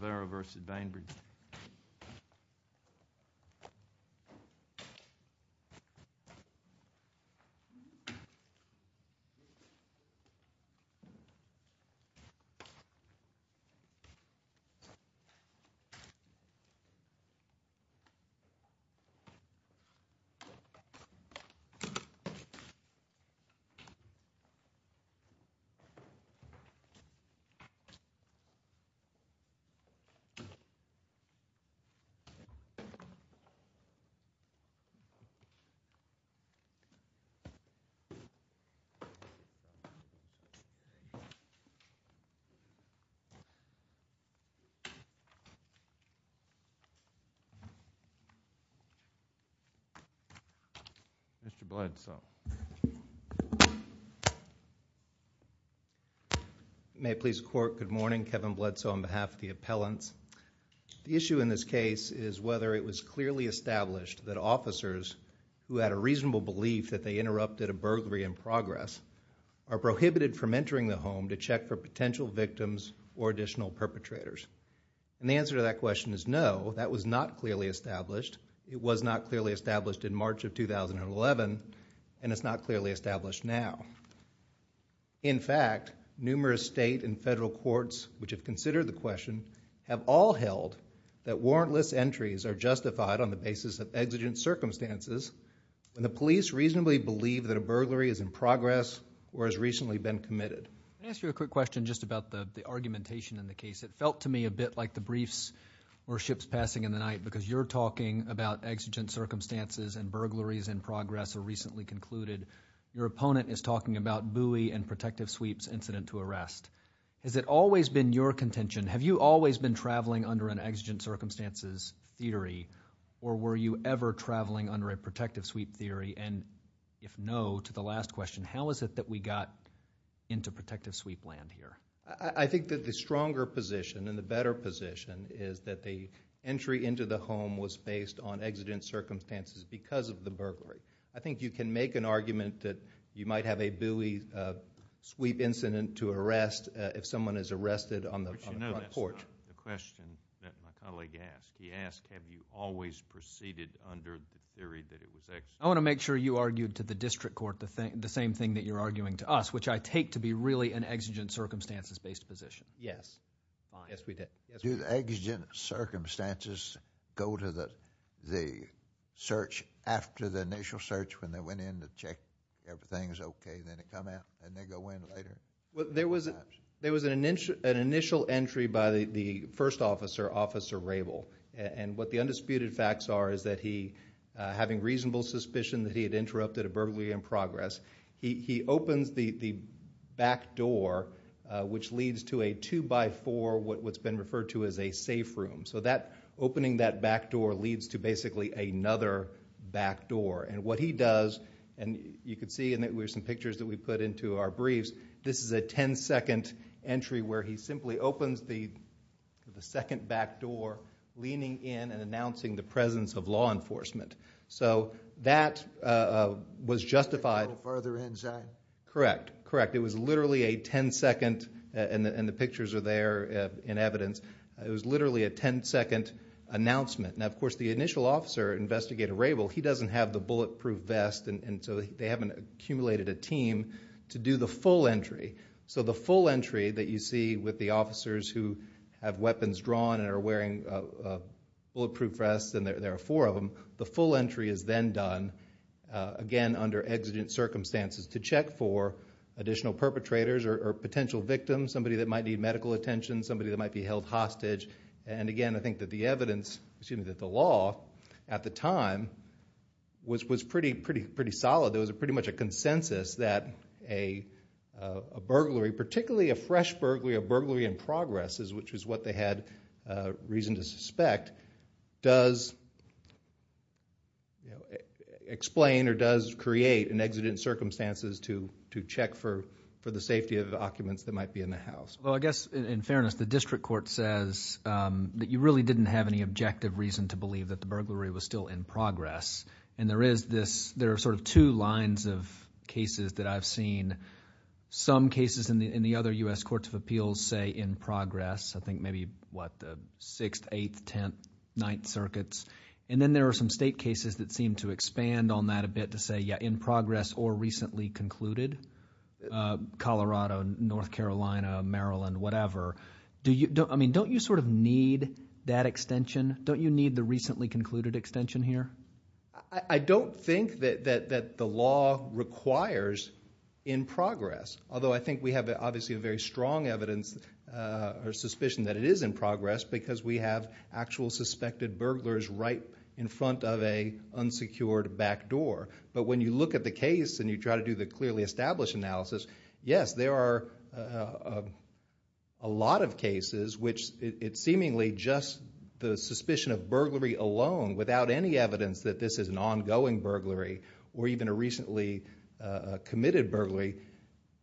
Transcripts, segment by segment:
Rivera v. Bainbridge. Mr. Bledsoe. May it please the Court. Good morning. Kevin Bledsoe on behalf of the appellants. The issue in this case is whether it was clearly established that officers who had a reasonable belief that they interrupted a burglary in progress are prohibited from entering the home to check for potential victims or additional perpetrators. And the answer to that question is no, that was not clearly established. It was not clearly established in March of 2011, and it's not clearly established now. In fact, numerous state and federal courts which have considered the question have all held that warrantless entries are justified on the basis of exigent circumstances when the police reasonably believe that a burglary is in progress or has recently been committed. Let me ask you a quick question just about the argumentation in the case. It felt to me a bit like the briefs were ships passing in the night because you're talking about exigent circumstances and burglaries in progress are recently concluded. Your opponent is talking about Bowie and protective sweeps incident to arrest. Has it always been your contention? Have you always been traveling under an exigent circumstances theory, or were you ever traveling under a protective sweep theory? And if no, to the last question, how is it that we got into protective sweep land here? I think that the stronger position and the better position is that the entry into the home was based on exigent circumstances because of the burglary. I think you can make an argument that you might have a Bowie sweep incident to arrest if someone is arrested on the front porch. But you know that's not the question that my colleague asked. He asked, have you always proceeded under the theory that it was exigent? I want to make sure you argued to the district court the same thing that you're arguing to us, which I take to be really an exigent circumstances based position. Yes. Fine. Yes, we did. Do the exigent circumstances go to the search after the initial search when they went in to check everything's okay, then it come out and they go in later? Well, there was an initial entry by the first officer, Officer Rabel. And what the undisputed facts are is that he, having reasonable suspicion that he had interrupted a burglary in progress, he opens the back door, which leads to a two by four, what's been referred to as a safe room. So opening that back door leads to basically another back door. And what he does, and you can see in some pictures that we put into our briefs, this is a 10 second entry where he simply opens the second back door, leaning in and announcing the presence of law enforcement. So that was justified. Further inside. Correct. Correct. So it was literally a 10 second, and the pictures are there in evidence, it was literally a 10 second announcement. Now, of course, the initial officer, Investigator Rabel, he doesn't have the bulletproof vest, and so they haven't accumulated a team to do the full entry. So the full entry that you see with the officers who have weapons drawn and are wearing bulletproof vests, and there are four of them, the full entry is then done, again, under exigent circumstances to check for additional perpetrators or potential victims, somebody that might need medical attention, somebody that might be held hostage. And again, I think that the evidence, excuse me, that the law at the time was pretty solid. There was pretty much a consensus that a burglary, particularly a fresh burglary, a burglary in progress, which is what they had reason to suspect, does explain or does create an exigent circumstances to check for the safety of the occupants that might be in the house. Well, I guess, in fairness, the district court says that you really didn't have any objective reason to believe that the burglary was still in progress, and there is this, there are sort of two lines of cases that I've seen. Some cases in the other U.S. courts of appeals say in progress, I think maybe, what, the 6th, 8th, 10th, 9th circuits, and then there are some state cases that seem to expand on that a bit to say, yeah, in progress or recently concluded, Colorado, North Carolina, Maryland, whatever. Do you, I mean, don't you sort of need that extension? Don't you need the recently concluded extension here? I don't think that the law requires in progress, although I think we have obviously a very strong evidence or suspicion that it is in progress because we have actual suspected burglars right in front of an unsecured back door. But when you look at the case and you try to do the clearly established analysis, yes, there are a lot of cases which it's seemingly just the suspicion of burglary alone without any evidence that this is an ongoing burglary or even a recently committed burglary.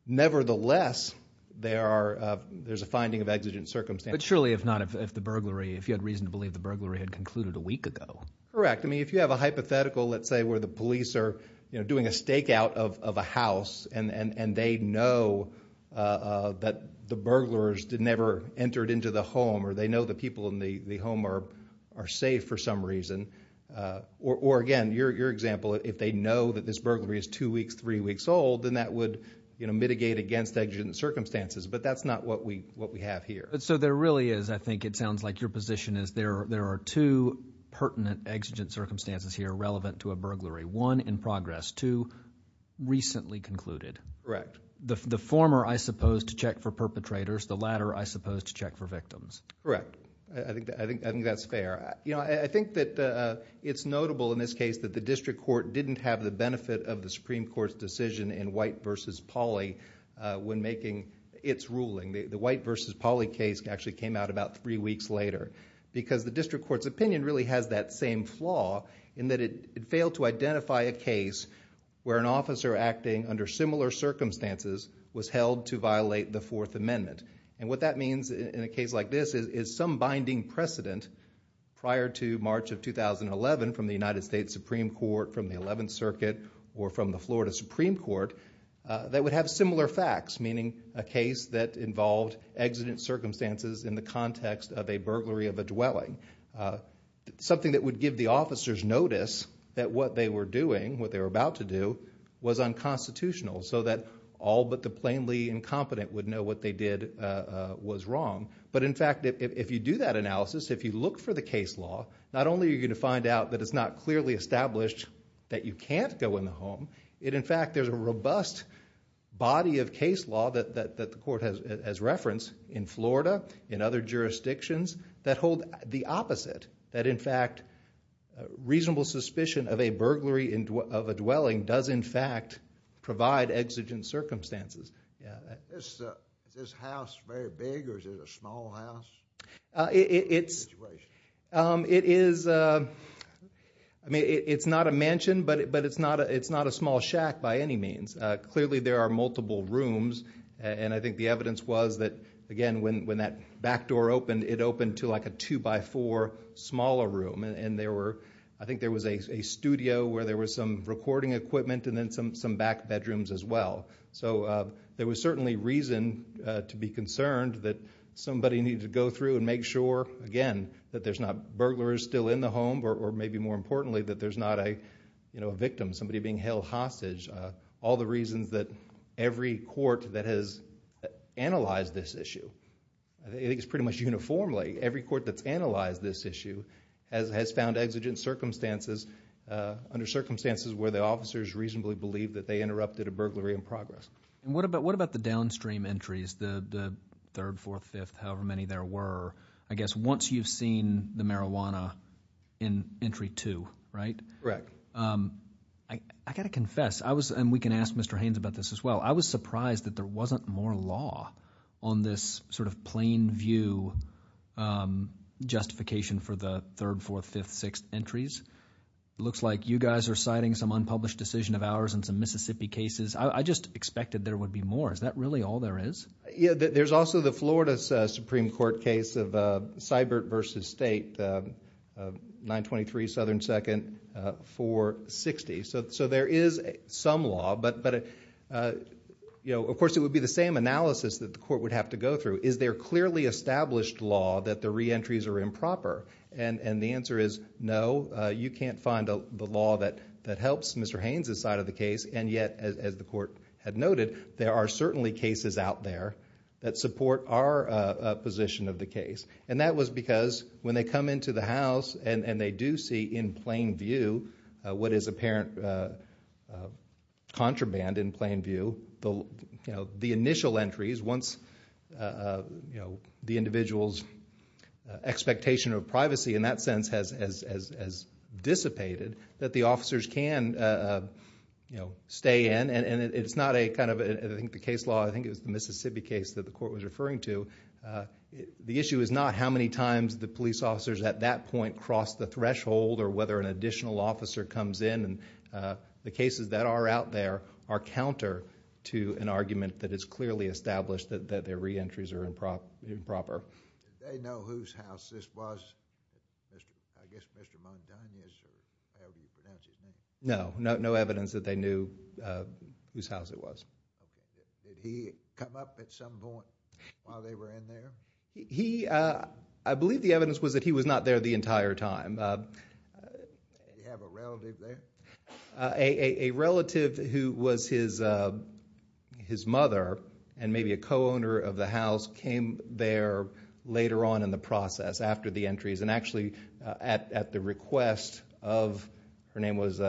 Nevertheless, there are, there's a finding of exigent circumstances. But surely, if not, if the burglary, if you had reason to believe the burglary had concluded a week ago. Correct. I mean, if you have a hypothetical, let's say, where the police are doing a stakeout of a house and they know that the burglars never entered into the home or they know the people in the home are safe for some reason, or again, your example, if they know that this burglary is two weeks, three weeks old, then that would mitigate against exigent circumstances. But that's not what we have here. So there really is, I think it sounds like your position is there are two pertinent exigent circumstances here relevant to a burglary. One, in progress. Two, recently concluded. Correct. The former, I suppose, to check for perpetrators. The latter, I suppose, to check for victims. Correct. I think that's fair. I think that it's notable in this case that the district court didn't have the benefit of the Supreme Court's decision in White v. Pauly when making its ruling. The White v. Pauly case actually came out about three weeks later because the district court's opinion really has that same flaw in that it failed to identify a case where an officer acting under similar circumstances was held to violate the Fourth Amendment. And what that means in a case like this is some binding precedent prior to March of 2011 from the United States Supreme Court, from the Eleventh Circuit, or from the Florida Supreme Court, that would have similar facts, meaning a case that involved exigent circumstances in the context of a burglary of a dwelling. Something that would give the officers notice that what they were doing, what they were about to do, was unconstitutional so that all but the plainly incompetent would know what they did was wrong. But in fact, if you do that analysis, if you look for the case law, not only are you going to find out that it's not clearly established that you can't go in the home, in fact there's a robust body of case law that the court has referenced in Florida, in other jurisdictions, that hold the opposite, that in fact reasonable suspicion of a burglary of a dwelling does in fact provide exigent circumstances. Is this house very big or is it a small house? It is, I mean, it's not a mansion, but it's not a small shack by any means. Clearly there are multiple rooms, and I think the evidence was that, again, when that back door opened, it opened to like a two-by-four smaller room, and there were, I think there was a studio where there was some recording equipment and then some back bedrooms as well. So there was certainly reason to be concerned that somebody needed to go through and make sure, again, that there's not burglars still in the home or maybe more importantly that there's not a victim, somebody being held hostage. All the reasons that every court that has analyzed this issue, I think it's pretty much uniformly, every court that's analyzed this issue has found exigent circumstances under circumstances where the officers reasonably believe that they interrupted a burglary in progress. And what about the downstream entries, the third, fourth, fifth, however many there were? I guess once you've seen the marijuana in entry two, right? Correct. I got to confess, and we can ask Mr. Haynes about this as well, I was surprised that there wasn't more law on this sort of plain view justification for the third, fourth, fifth, sixth entries. It looks like you guys are citing some unpublished decision of ours in some Mississippi cases. I just expected there would be more. Is that really all there is? Yeah, there's also the Florida Supreme Court case of Seibert v. State, 923 Southern 2nd, 460. So there is some law, but of course it would be the same analysis that the court would have to go through. Is there clearly established law that the reentries are improper? And the answer is no, you can't find the law that helps Mr. Haynes' side of the case. And yet, as the court had noted, there are certainly cases out there that support our position of the case. And that was because when they come into the house and they do see in plain view what is apparent contraband in plain view, the initial entries, once the individual's expectation of privacy in that sense has dissipated, that the officers can stay in. And it's not a kind of, I think the case law, I think it was the Mississippi case that the court was referring to. The issue is not how many times the police officers at that point cross the threshold or whether an additional officer comes in. The cases that are out there are counter to an argument that is clearly established that their reentries are improper. Did they know whose house this was? I guess Mr. Montanez or however you pronounce his name. No, no evidence that they knew whose house it was. Did he come up at some point while they were in there? He, I believe the evidence was that he was not there the entire time. Did he have a relative there? A relative who was his mother and maybe a co-owner of the house came there later on in the process after the entries and actually at the request of, her name was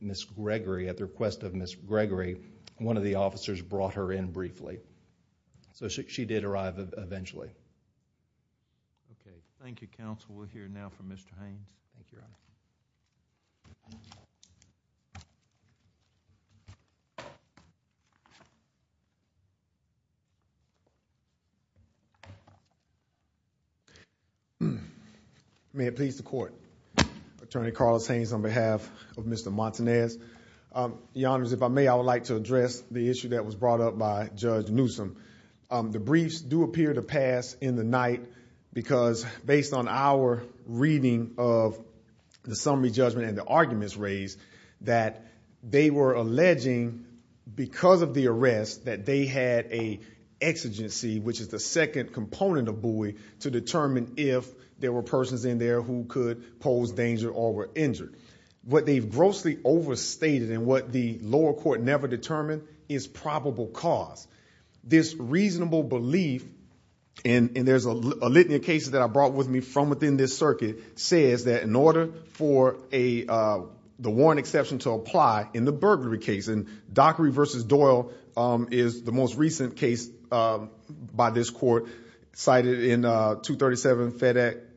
Miss Gregory, at the request of Miss Gregory, one of the officers brought her in briefly. So she did arrive eventually. Okay, thank you counsel. We'll hear now from Mr. Haynes. Thank you, Your Honor. May it please the court. Attorney Carlos Haynes on behalf of Mr. Montanez. Your Honors, if I may, I would like to address the issue that was brought up by Judge Newsom. The briefs do appear to pass in the night because based on our reading of the summary judgment and the arguments raised that they were alleging because of the arrest that they had a exigency, which is the second component of buoy, to determine if there were persons in there who could pose danger or were injured. What they've grossly overstated and what the lower court never determined is probable cause. This reasonable belief, and there's a litany of cases that I brought with me from within this circuit, says that in order for the warrant exception to apply in the burglary case, and Dockery v. Doyle is the most recent case by this court cited in 237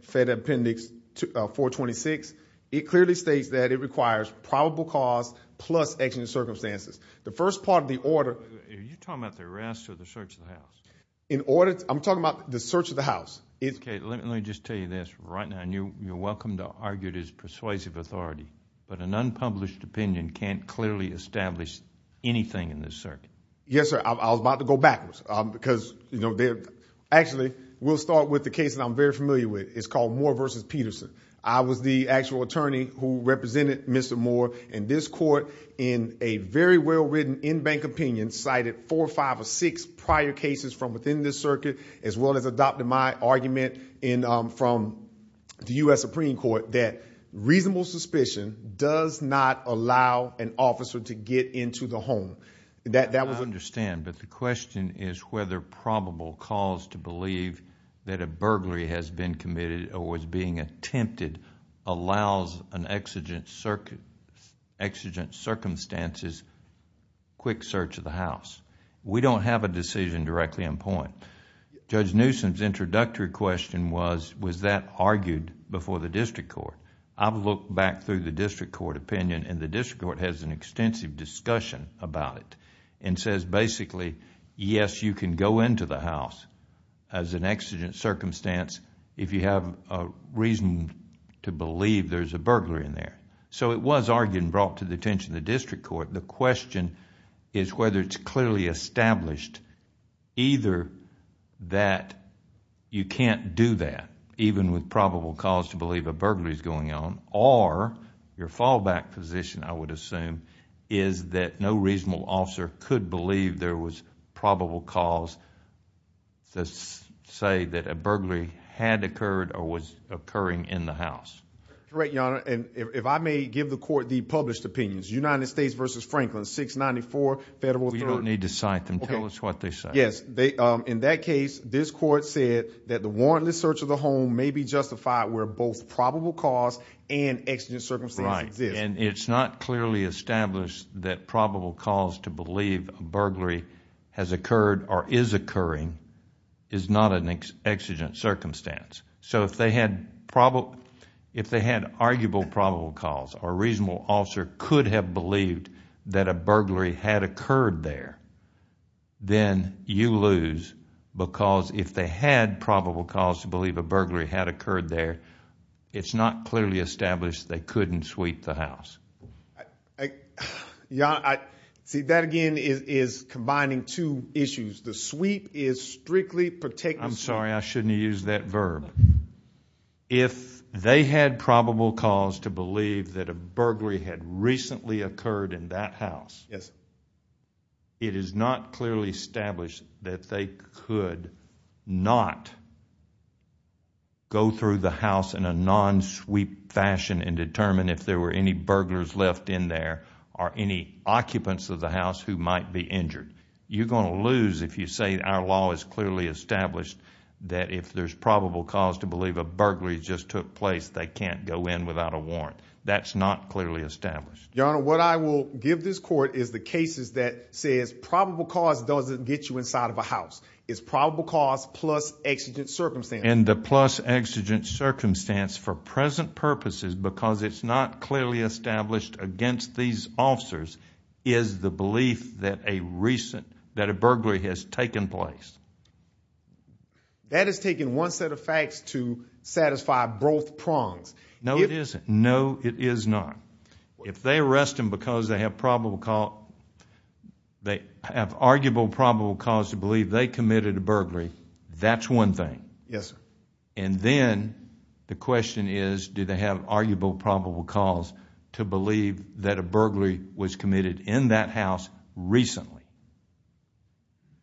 Fed Appendix 426, it clearly states that it requires probable cause plus exigent circumstances. The first part of the order. Are you talking about the arrest or the search of the house? I'm talking about the search of the house. Okay, let me just tell you this. Right now, you're welcome to argue it is persuasive authority, but an unpublished opinion can't clearly establish anything in this circuit. Yes, sir. I was about to go backwards because, you know, actually we'll start with the case that I'm very familiar with. It's called Moore v. Peterson. I was the actual attorney who represented Mr. Moore in this court in a very well-written in-bank opinion, cited four or five or six prior cases from within this circuit, as well as adopted my argument from the U.S. Supreme Court that reasonable suspicion does not allow an officer to get into the home. That was... I understand, but the question is whether probable cause to believe that a burglary has been committed or was being attempted allows an exigent circumstances quick search of the house. We don't have a decision directly in point. Judge Newsom's introductory question was, was that argued before the district court? I've looked back through the district court opinion and the district court has an extensive discussion about it and says basically, yes, you can go into the house as an exigent circumstance if you have a reason to believe there's a burglary in there. It was argued and brought to the attention of the district court. The question is whether it's clearly established either that you can't do that, even with probable cause to believe a burglary is going on, or your fallback position, I would assume, is that no reasonable officer could believe there was probable cause to say that a burglary had occurred or was occurring in the house. Correct, Your Honor. If I may give the court the published opinions, United States v. Franklin, 694 Federal 3rd... You don't need to cite them. Tell us what they say. Yes. In that case, this court said that the warrantless search of the home may be justified where both probable cause and exigent circumstance exist. Right. And it's not clearly established that probable cause to believe a burglary has occurred or is occurring is not an exigent circumstance. So, if they had probable... if they had arguable probable cause or a reasonable officer could have believed that a burglary had occurred there, then you lose because if they had probable cause to believe a burglary had occurred there, it's not clearly established they couldn't sweep the house. Your Honor, see, that again is combining two issues. The sweep is strictly... If they had probable cause to believe that a burglary had recently occurred in that house... Yes. It is not clearly established that they could not go through the house in a non-sweep fashion and determine if there were any burglars left in there or any occupants of the house who might be injured. You're going to lose if you say our law is clearly established that if there's probable cause to believe a burglary just took place, they can't go in without a warrant. That's not clearly established. Your Honor, what I will give this court is the cases that says probable cause doesn't get you inside of a house. It's probable cause plus exigent circumstance. And the plus exigent circumstance for present purposes because it's not clearly established against these officers is the belief that a recent... that a burglary has taken place. That is taking one set of facts to satisfy both prongs. No, it isn't. No, it is not. If they arrest them because they have probable cause... they have arguable probable cause to believe they committed a burglary, that's one thing. Yes, sir. And then the question is do they have arguable probable cause to believe that a burglary was committed in that house recently?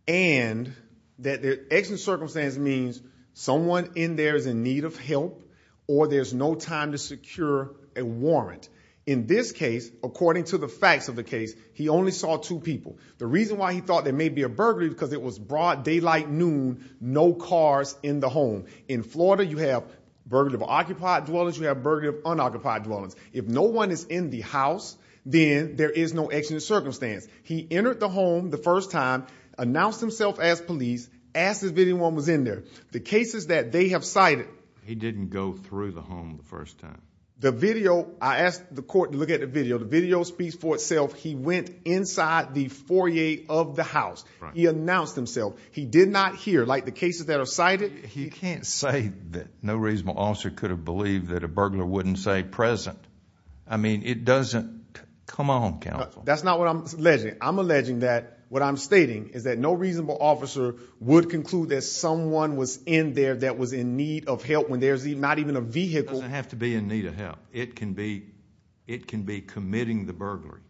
And that the exigent circumstance means someone in there is in need of help or there's no time to secure a warrant. In this case, according to the facts of the case, he only saw two people. The reason why he thought there may be a burglary is because it was broad daylight noon, no cars in the home. In Florida, you have burglary of occupied dwellings. You have burglary of unoccupied dwellings. If no one is in the house, then there is no exigent circumstance. He entered the home the first time, announced himself as police, asked if anyone was in there. The cases that they have cited... He didn't go through the home the first time. The video... I asked the court to look at the video. The video speaks for itself. He went inside the foyer of the house. He announced himself. He did not hear, like the cases that are cited... You can't say that no reasonable officer could have believed that a burglar wouldn't say present. I mean, it doesn't... Come on, counsel. That's not what I'm alleging. I'm alleging that what I'm stating is that no reasonable officer would conclude that someone was in there that was in need of help when there's not even a vehicle. It doesn't have to be in need of help. It can be committing the burglary......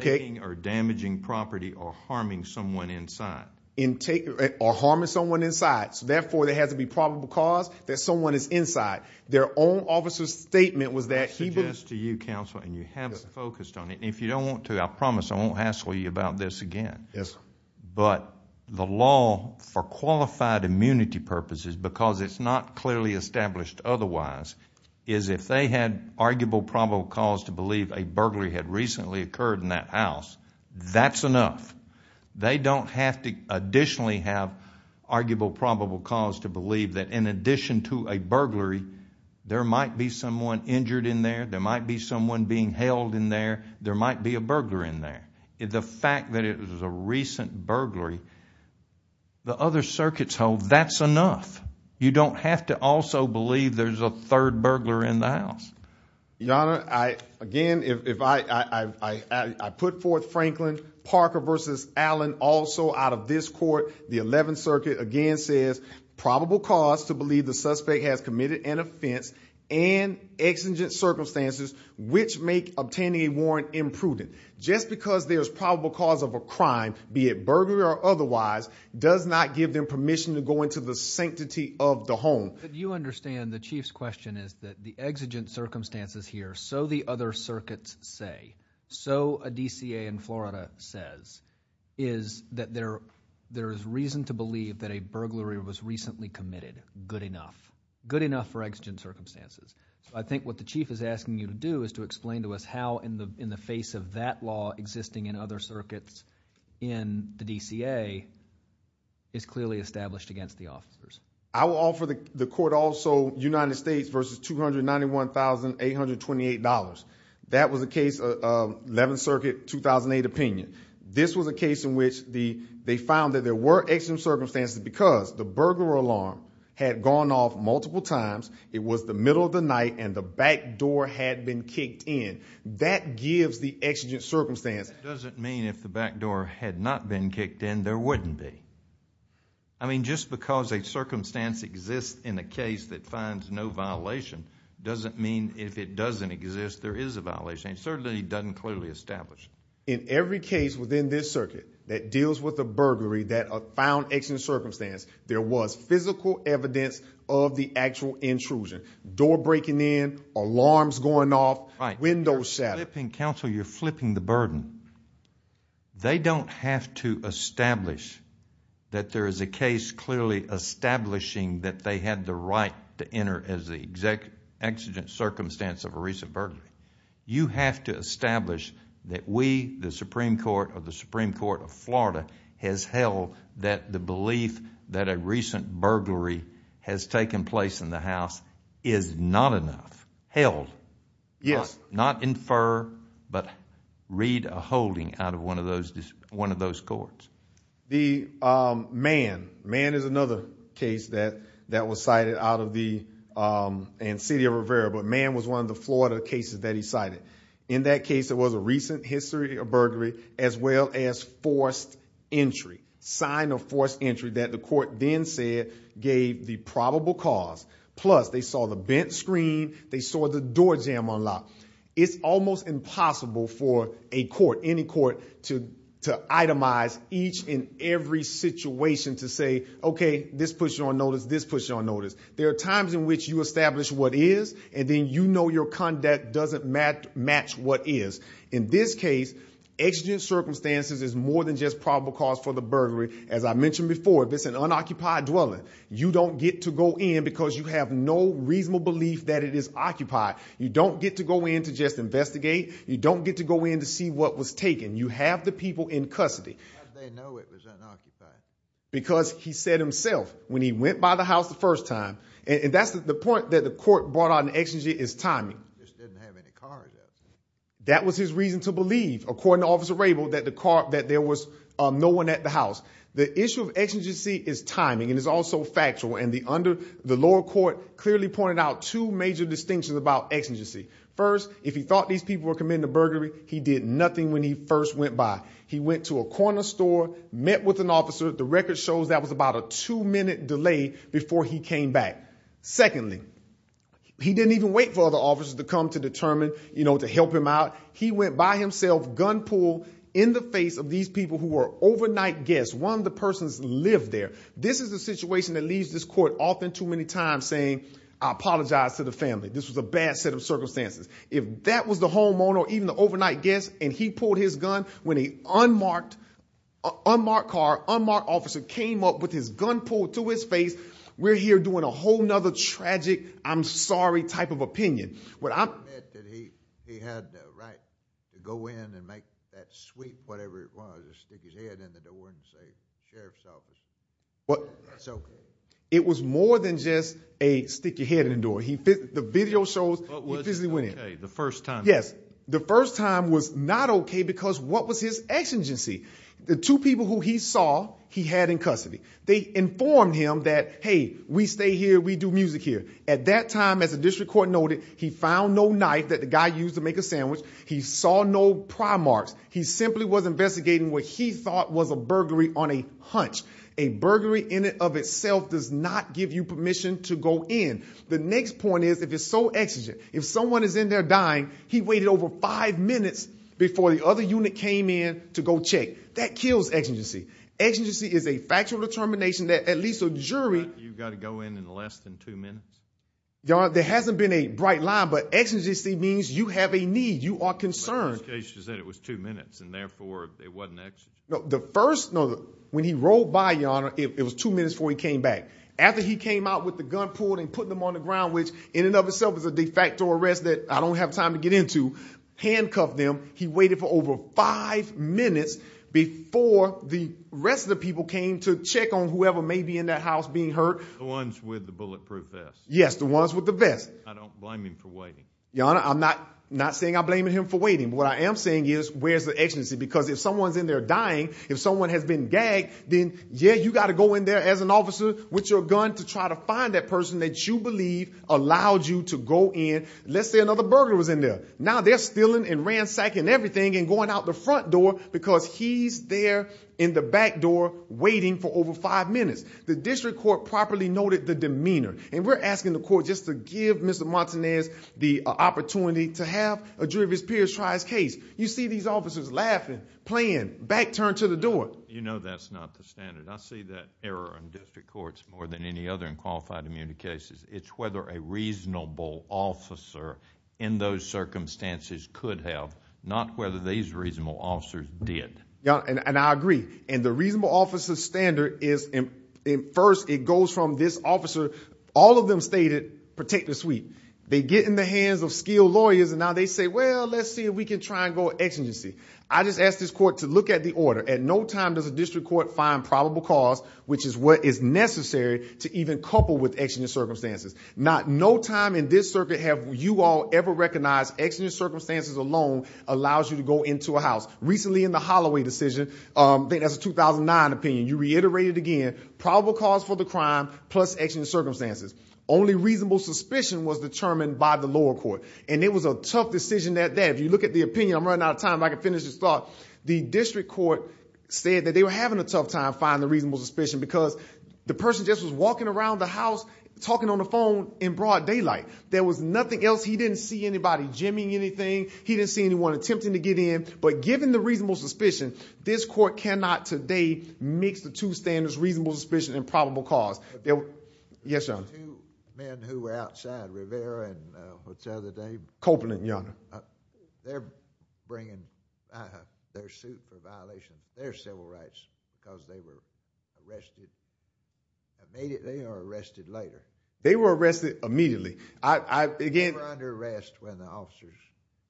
taking or damaging property or harming someone inside. Or harming someone inside. Therefore, there has to be probable cause that someone is inside. Their own officer's statement was that he... That's just to you, counsel, and you haven't focused on it. If you don't want to, I promise I won't hassle you about this again. Yes, sir. But the law for qualified immunity purposes, because it's not clearly established otherwise, is if they had arguable probable cause to believe a burglary had recently occurred in that house, that's enough. They don't have to additionally have arguable probable cause to believe that in addition to a burglary, there might be someone injured in there. There might be someone being held in there. There might be a burglar in there. The fact that it was a recent burglary, the other circuits hold, that's enough. You don't have to also believe there's a third burglar in the house. Your Honor, I... Again, if I... I put forth Franklin Parker v. Allen, also out of this court. The Eleventh Circuit, again, says... Probable cause to believe the suspect has committed an offense and exigent circumstances which make obtaining a warrant imprudent. Just because there's probable cause of a crime, be it burglary or otherwise, does not give them permission to go into the sanctity of the home. But you understand the Chief's question is that the exigent circumstances here, so the other circuits say, so a DCA in Florida says, is that there is reason to believe that a burglary was recently committed. Good enough. Good enough for exigent circumstances. So I think what the Chief is asking you to do is to explain to us how, in the face of that law existing in other circuits in the DCA, it's clearly established against the officers. I will offer the court also United States v. $291,828. That was the case of Eleventh Circuit, 2008 opinion. This was a case in which they found that there were exigent circumstances because the burglar alarm had gone off multiple times. It was the middle of the night and the back door had been kicked in. That gives the exigent circumstance. It doesn't mean if the back door had not been kicked in, there wouldn't be. I mean, just because a circumstance exists in a case that finds no violation doesn't mean if it doesn't exist, there is a violation. It certainly doesn't clearly establish. In every case within this circuit that deals with a burglary that found exigent circumstance, there was physical evidence of the actual intrusion. Door breaking in, alarms going off, windows shattered. Counsel, you're flipping the burden. They don't have to establish that there is a case clearly establishing that they had the right to enter as the exact exigent circumstance of a recent burglary. You have to establish that we, the Supreme Court or the Supreme Court of Florida, has held that the belief that a recent burglary has taken place in the house is not enough. Held. Yes. Not infer, but read a holding out of one of those courts. The Mann. Mann is another case that was cited out of the, and City of Rivera, but Mann was one of the Florida cases that he cited. In that case, there was a recent history of burglary as well as forced entry, sign of forced entry that the court then said gave the probable cause. Plus, they saw the bent screen. They saw the door jamb unlocked. It's almost impossible for a court, any court to itemize each and every situation to say, okay, this puts you on notice. This puts you on notice. There are times in which you establish what is, and then you know your conduct doesn't match what is. In this case, exigent circumstances is more than just probable cause for the burglary. As I mentioned before, if it's an unoccupied dwelling, you don't get to go in because you have no reasonable belief that it is occupied. You don't get to go in to just investigate. You don't get to go in to see what was taken. You have the people in custody. Because he said himself when he went by the house the first time, and that's the point that the court brought on. Exigent is timing. That was his reason to believe, according to Officer Rabel, that the car, that there was no one at the house. The issue of exigency is timing, and it's also factual, and the lower court clearly pointed out two major distinctions about exigency. First, if he thought these people were committing a burglary, he did nothing when he first went by. He went to a corner store, met with an officer. The record shows that was about a two-minute delay before he came back. Secondly, he didn't even wait for other officers to come to determine, you know, to help him out. He went by himself, gun-pulled in the face of these people who were overnight guests. One of the persons lived there. This is the situation that leaves this court often too many times saying, I apologize to the family. This was a bad set of circumstances. If that was the homeowner or even the overnight guest, and he pulled his gun when a unmarked car, unmarked officer came up with his gun pulled to his face, we're here doing a whole nother tragic, I'm sorry type of opinion. He had the right to go in and make that sweep, whatever it was, or stick his head in the door and say sheriff's office. It was more than just a stick your head in the door. The video shows he physically went in. The first time. Yes. The first time was not okay because what was his exigency? The two people who he saw, he had in custody. They informed him that, hey, we stay here, we do music here. At that time, as a district court noted, he found no knife that the guy used to make a sandwich. He saw no pry marks. He simply was investigating what he thought was a burglary on a hunch. A burglary in and of itself does not give you permission to go in. The next point is, if it's so exigent, if someone is in there dying, he waited over five minutes before the other unit came in to go check. That kills exigency. Exigency is a factual determination that at least a jury. You've got to go in in less than two minutes. There hasn't been a bright line, but exigency means you have a need. You are concerned. It was two minutes and therefore it wasn't the first. No. When he rolled by your honor, it was two minutes before he came back. After he came out with the gun pulled and put them on the ground, which in and of itself is a de facto arrest that I don't have time to get into handcuff them. He waited for over five minutes before the rest of the people came to check on whoever may be in that house being hurt. The ones with the bulletproof vest. Yes, the ones with the vest. I don't blame him for waiting. Your honor, I'm not not saying I blame him for waiting. What I am saying is where's the agency? Because if someone's in there dying, if someone has been gagged, then yeah, you got to go in there as an officer with your gun to try to find that person that you believe allowed you to go in. Let's say another burglar was in there. Now they're stealing and ransacking everything and going out the front door because he's there in the back door waiting for over five minutes. The district court properly noted the demeanor and we're asking the court just to give Mr. Montanez the opportunity to have a jury of his peers try his case. You see these officers laughing, playing, back turned to the door. You know, that's not the standard. I see that error in district courts more than any other in qualified immunity cases. It's whether a reasonable officer in those circumstances could have not whether these reasonable officers did. Yeah, and I agree. And the reasonable officer standard is in first. It goes from this officer. All of them stated protect the suite. They get in the hands of skilled lawyers and now they say, well, let's see if we can try and go exigency. I just asked this court to look at the order. At no time does a district court find probable cause, which is what is necessary to even couple with exigent circumstances. Not no time in this circuit. Have you all ever recognized exigent circumstances alone allows you to go into a house recently in the Holloway decision. That's a 2009 opinion. You reiterate it again. Probable cause for the crime plus exigent circumstances. Only reasonable suspicion was determined by the lower court. And it was a tough decision that day. If you look at the opinion, I'm running out of time. I can finish this thought. The district court said that they were having a tough time finding reasonable suspicion because the person just was walking around the house, talking on the phone in broad daylight. There was nothing else. He didn't see anybody jimmying anything. He didn't see anyone attempting to get in. But given the reasonable suspicion, this court cannot today mix the two standards, reasonable suspicion and probable cause. Yes, sir. Two men who were outside Rivera and what's the other day? Copeland. Yeah, they're bringing their suit for violation. Their civil rights because they were arrested. I made it. They are arrested later. They were arrested immediately. I began to arrest when the officers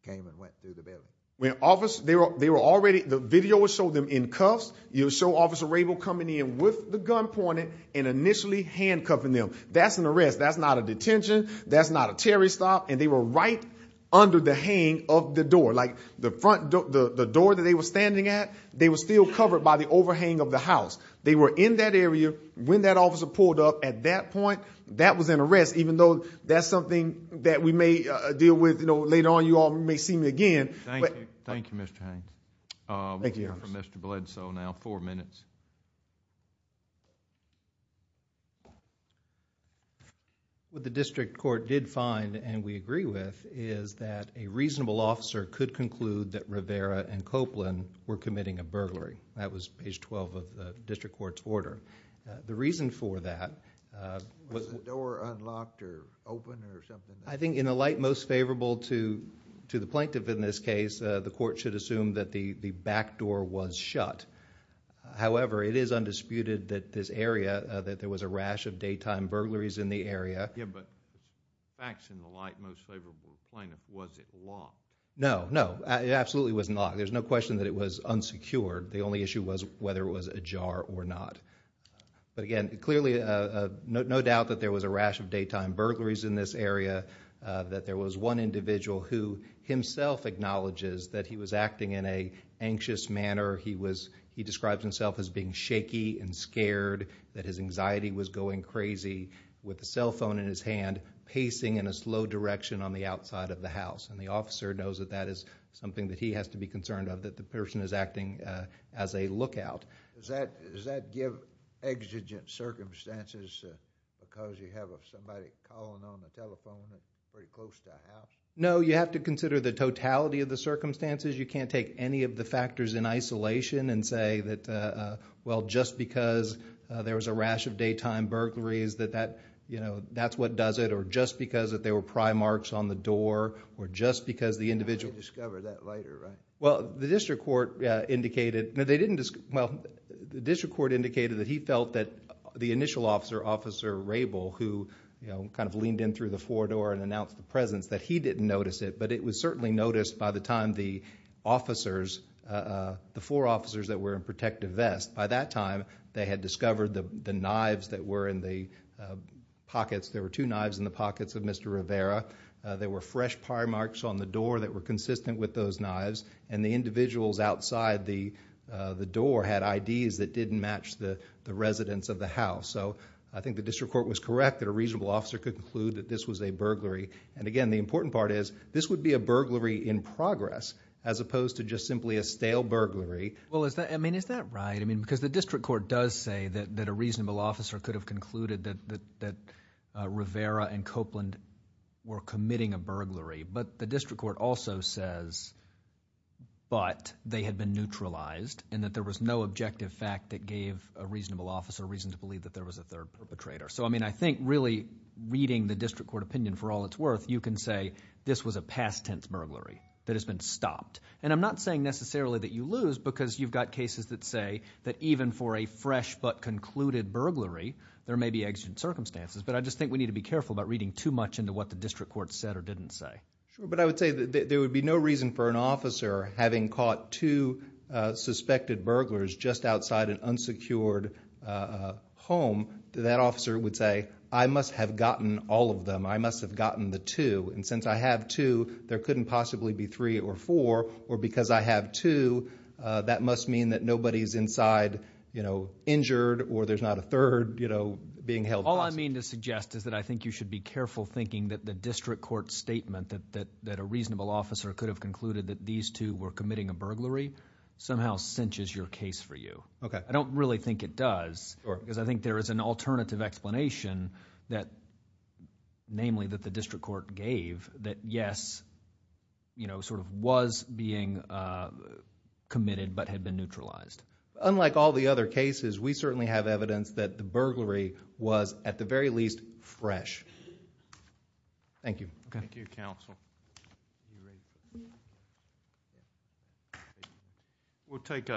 came and went through the building when office they were. They were already. The video was so them in cuffs. You'll show Officer Rable coming in with the gun pointed and initially handcuffing them. That's an arrest. That's not a detention. That's not a Terry stop. And they were right under the hang of the door like the front door that they were standing at. They were still covered by the overhang of the house. They were in that area when that officer pulled up at that point. That was an arrest, even though that's something that we may deal with. You know, later on, you all may see me again. Thank you. Thank you, Mr. Bledsoe. Now, four minutes. What the district court did find, and we agree with, is that a reasonable officer could conclude that Rivera and Copeland were committing a burglary. That was page 12 of the district court's order. The reason for that was... Was the door unlocked or open or something? I think in the light most favorable to the plaintiff in this case, the court should assume that the back door was shut. However, it is undisputed that this area, that there was a rash of daytime burglaries in the area. Yeah, but facts in the light most favorable to the plaintiff, was it locked? No, no. It absolutely wasn't locked. There's no question that it was unsecured. The only issue was whether it was ajar or not. But again, clearly, no doubt that there was a rash of daytime burglaries in this area, that there was one individual who himself acknowledges that he was acting in an anxious manner. He describes himself as being shaky and scared, that his anxiety was going crazy, with a cell phone in his hand, pacing in a slow direction on the outside of the house. And the officer knows that that is something that he has to be concerned of, that the person is acting as a lookout. Does that give exigent circumstances, because you have somebody calling on the telephone that's pretty close to the house? No, you have to consider the totality of the circumstances. You can't take any of the factors in isolation and say that, well, just because there was a rash of daytime burglaries, that that, you know, that's what does it. Or just because that there were pry marks on the door, or just because the individual... They discovered that later, right? Well, the district court indicated that he felt that the initial officer, Officer Rabel, who kind of leaned in through the front door and announced the presence, that he didn't notice it. But it was certainly noticed by the time the officers, the four officers that were in protective vests, by that time, they had discovered the knives that were in the pockets. There were two knives in the pockets of Mr. Rivera. There were fresh pry marks on the door that were consistent with those knives. And the individuals outside the door had IDs that didn't match the residents of the house. So, I think the district court was correct that a reasonable officer could conclude that this was a burglary. And again, the important part is, this would be a burglary in progress, as opposed to just simply a stale burglary. Well, is that right? I mean because the district court does say that a reasonable officer could have concluded that Rivera and Copeland were committing a burglary. But the district court also says, but they had been neutralized and that there was no objective fact that gave a reasonable officer a reason to believe that there was a third perpetrator. So, I mean I think really reading the district court opinion for all it's worth, you can say this was a past tense burglary that has been stopped. And I'm not saying necessarily that you lose because you've got cases that say that even for a fresh but concluded burglary, there may be exigent circumstances. But I just think we need to be careful about reading too much into what the district court said or didn't say. Sure, but I would say that there would be no reason for an officer having caught two suspected burglars just outside an unsecured home. That officer would say, I must have gotten all of them. I must have gotten the two. And since I have two, there couldn't possibly be three or four. Or because I have two, that must mean that nobody's inside injured or there's not a third being held hostage. All I mean to suggest is that I think you should be careful thinking that the district court statement that a reasonable officer could have concluded that these two were committing a burglary somehow cinches your case for you. I don't really think it does. Because I think there is an alternative explanation, namely that the district court gave, that yes, sort of was being committed but had been neutralized. Unlike all the other cases, we certainly have evidence that the burglary was, at the very least, fresh. Thank you. Thank you, counsel. We'll take up.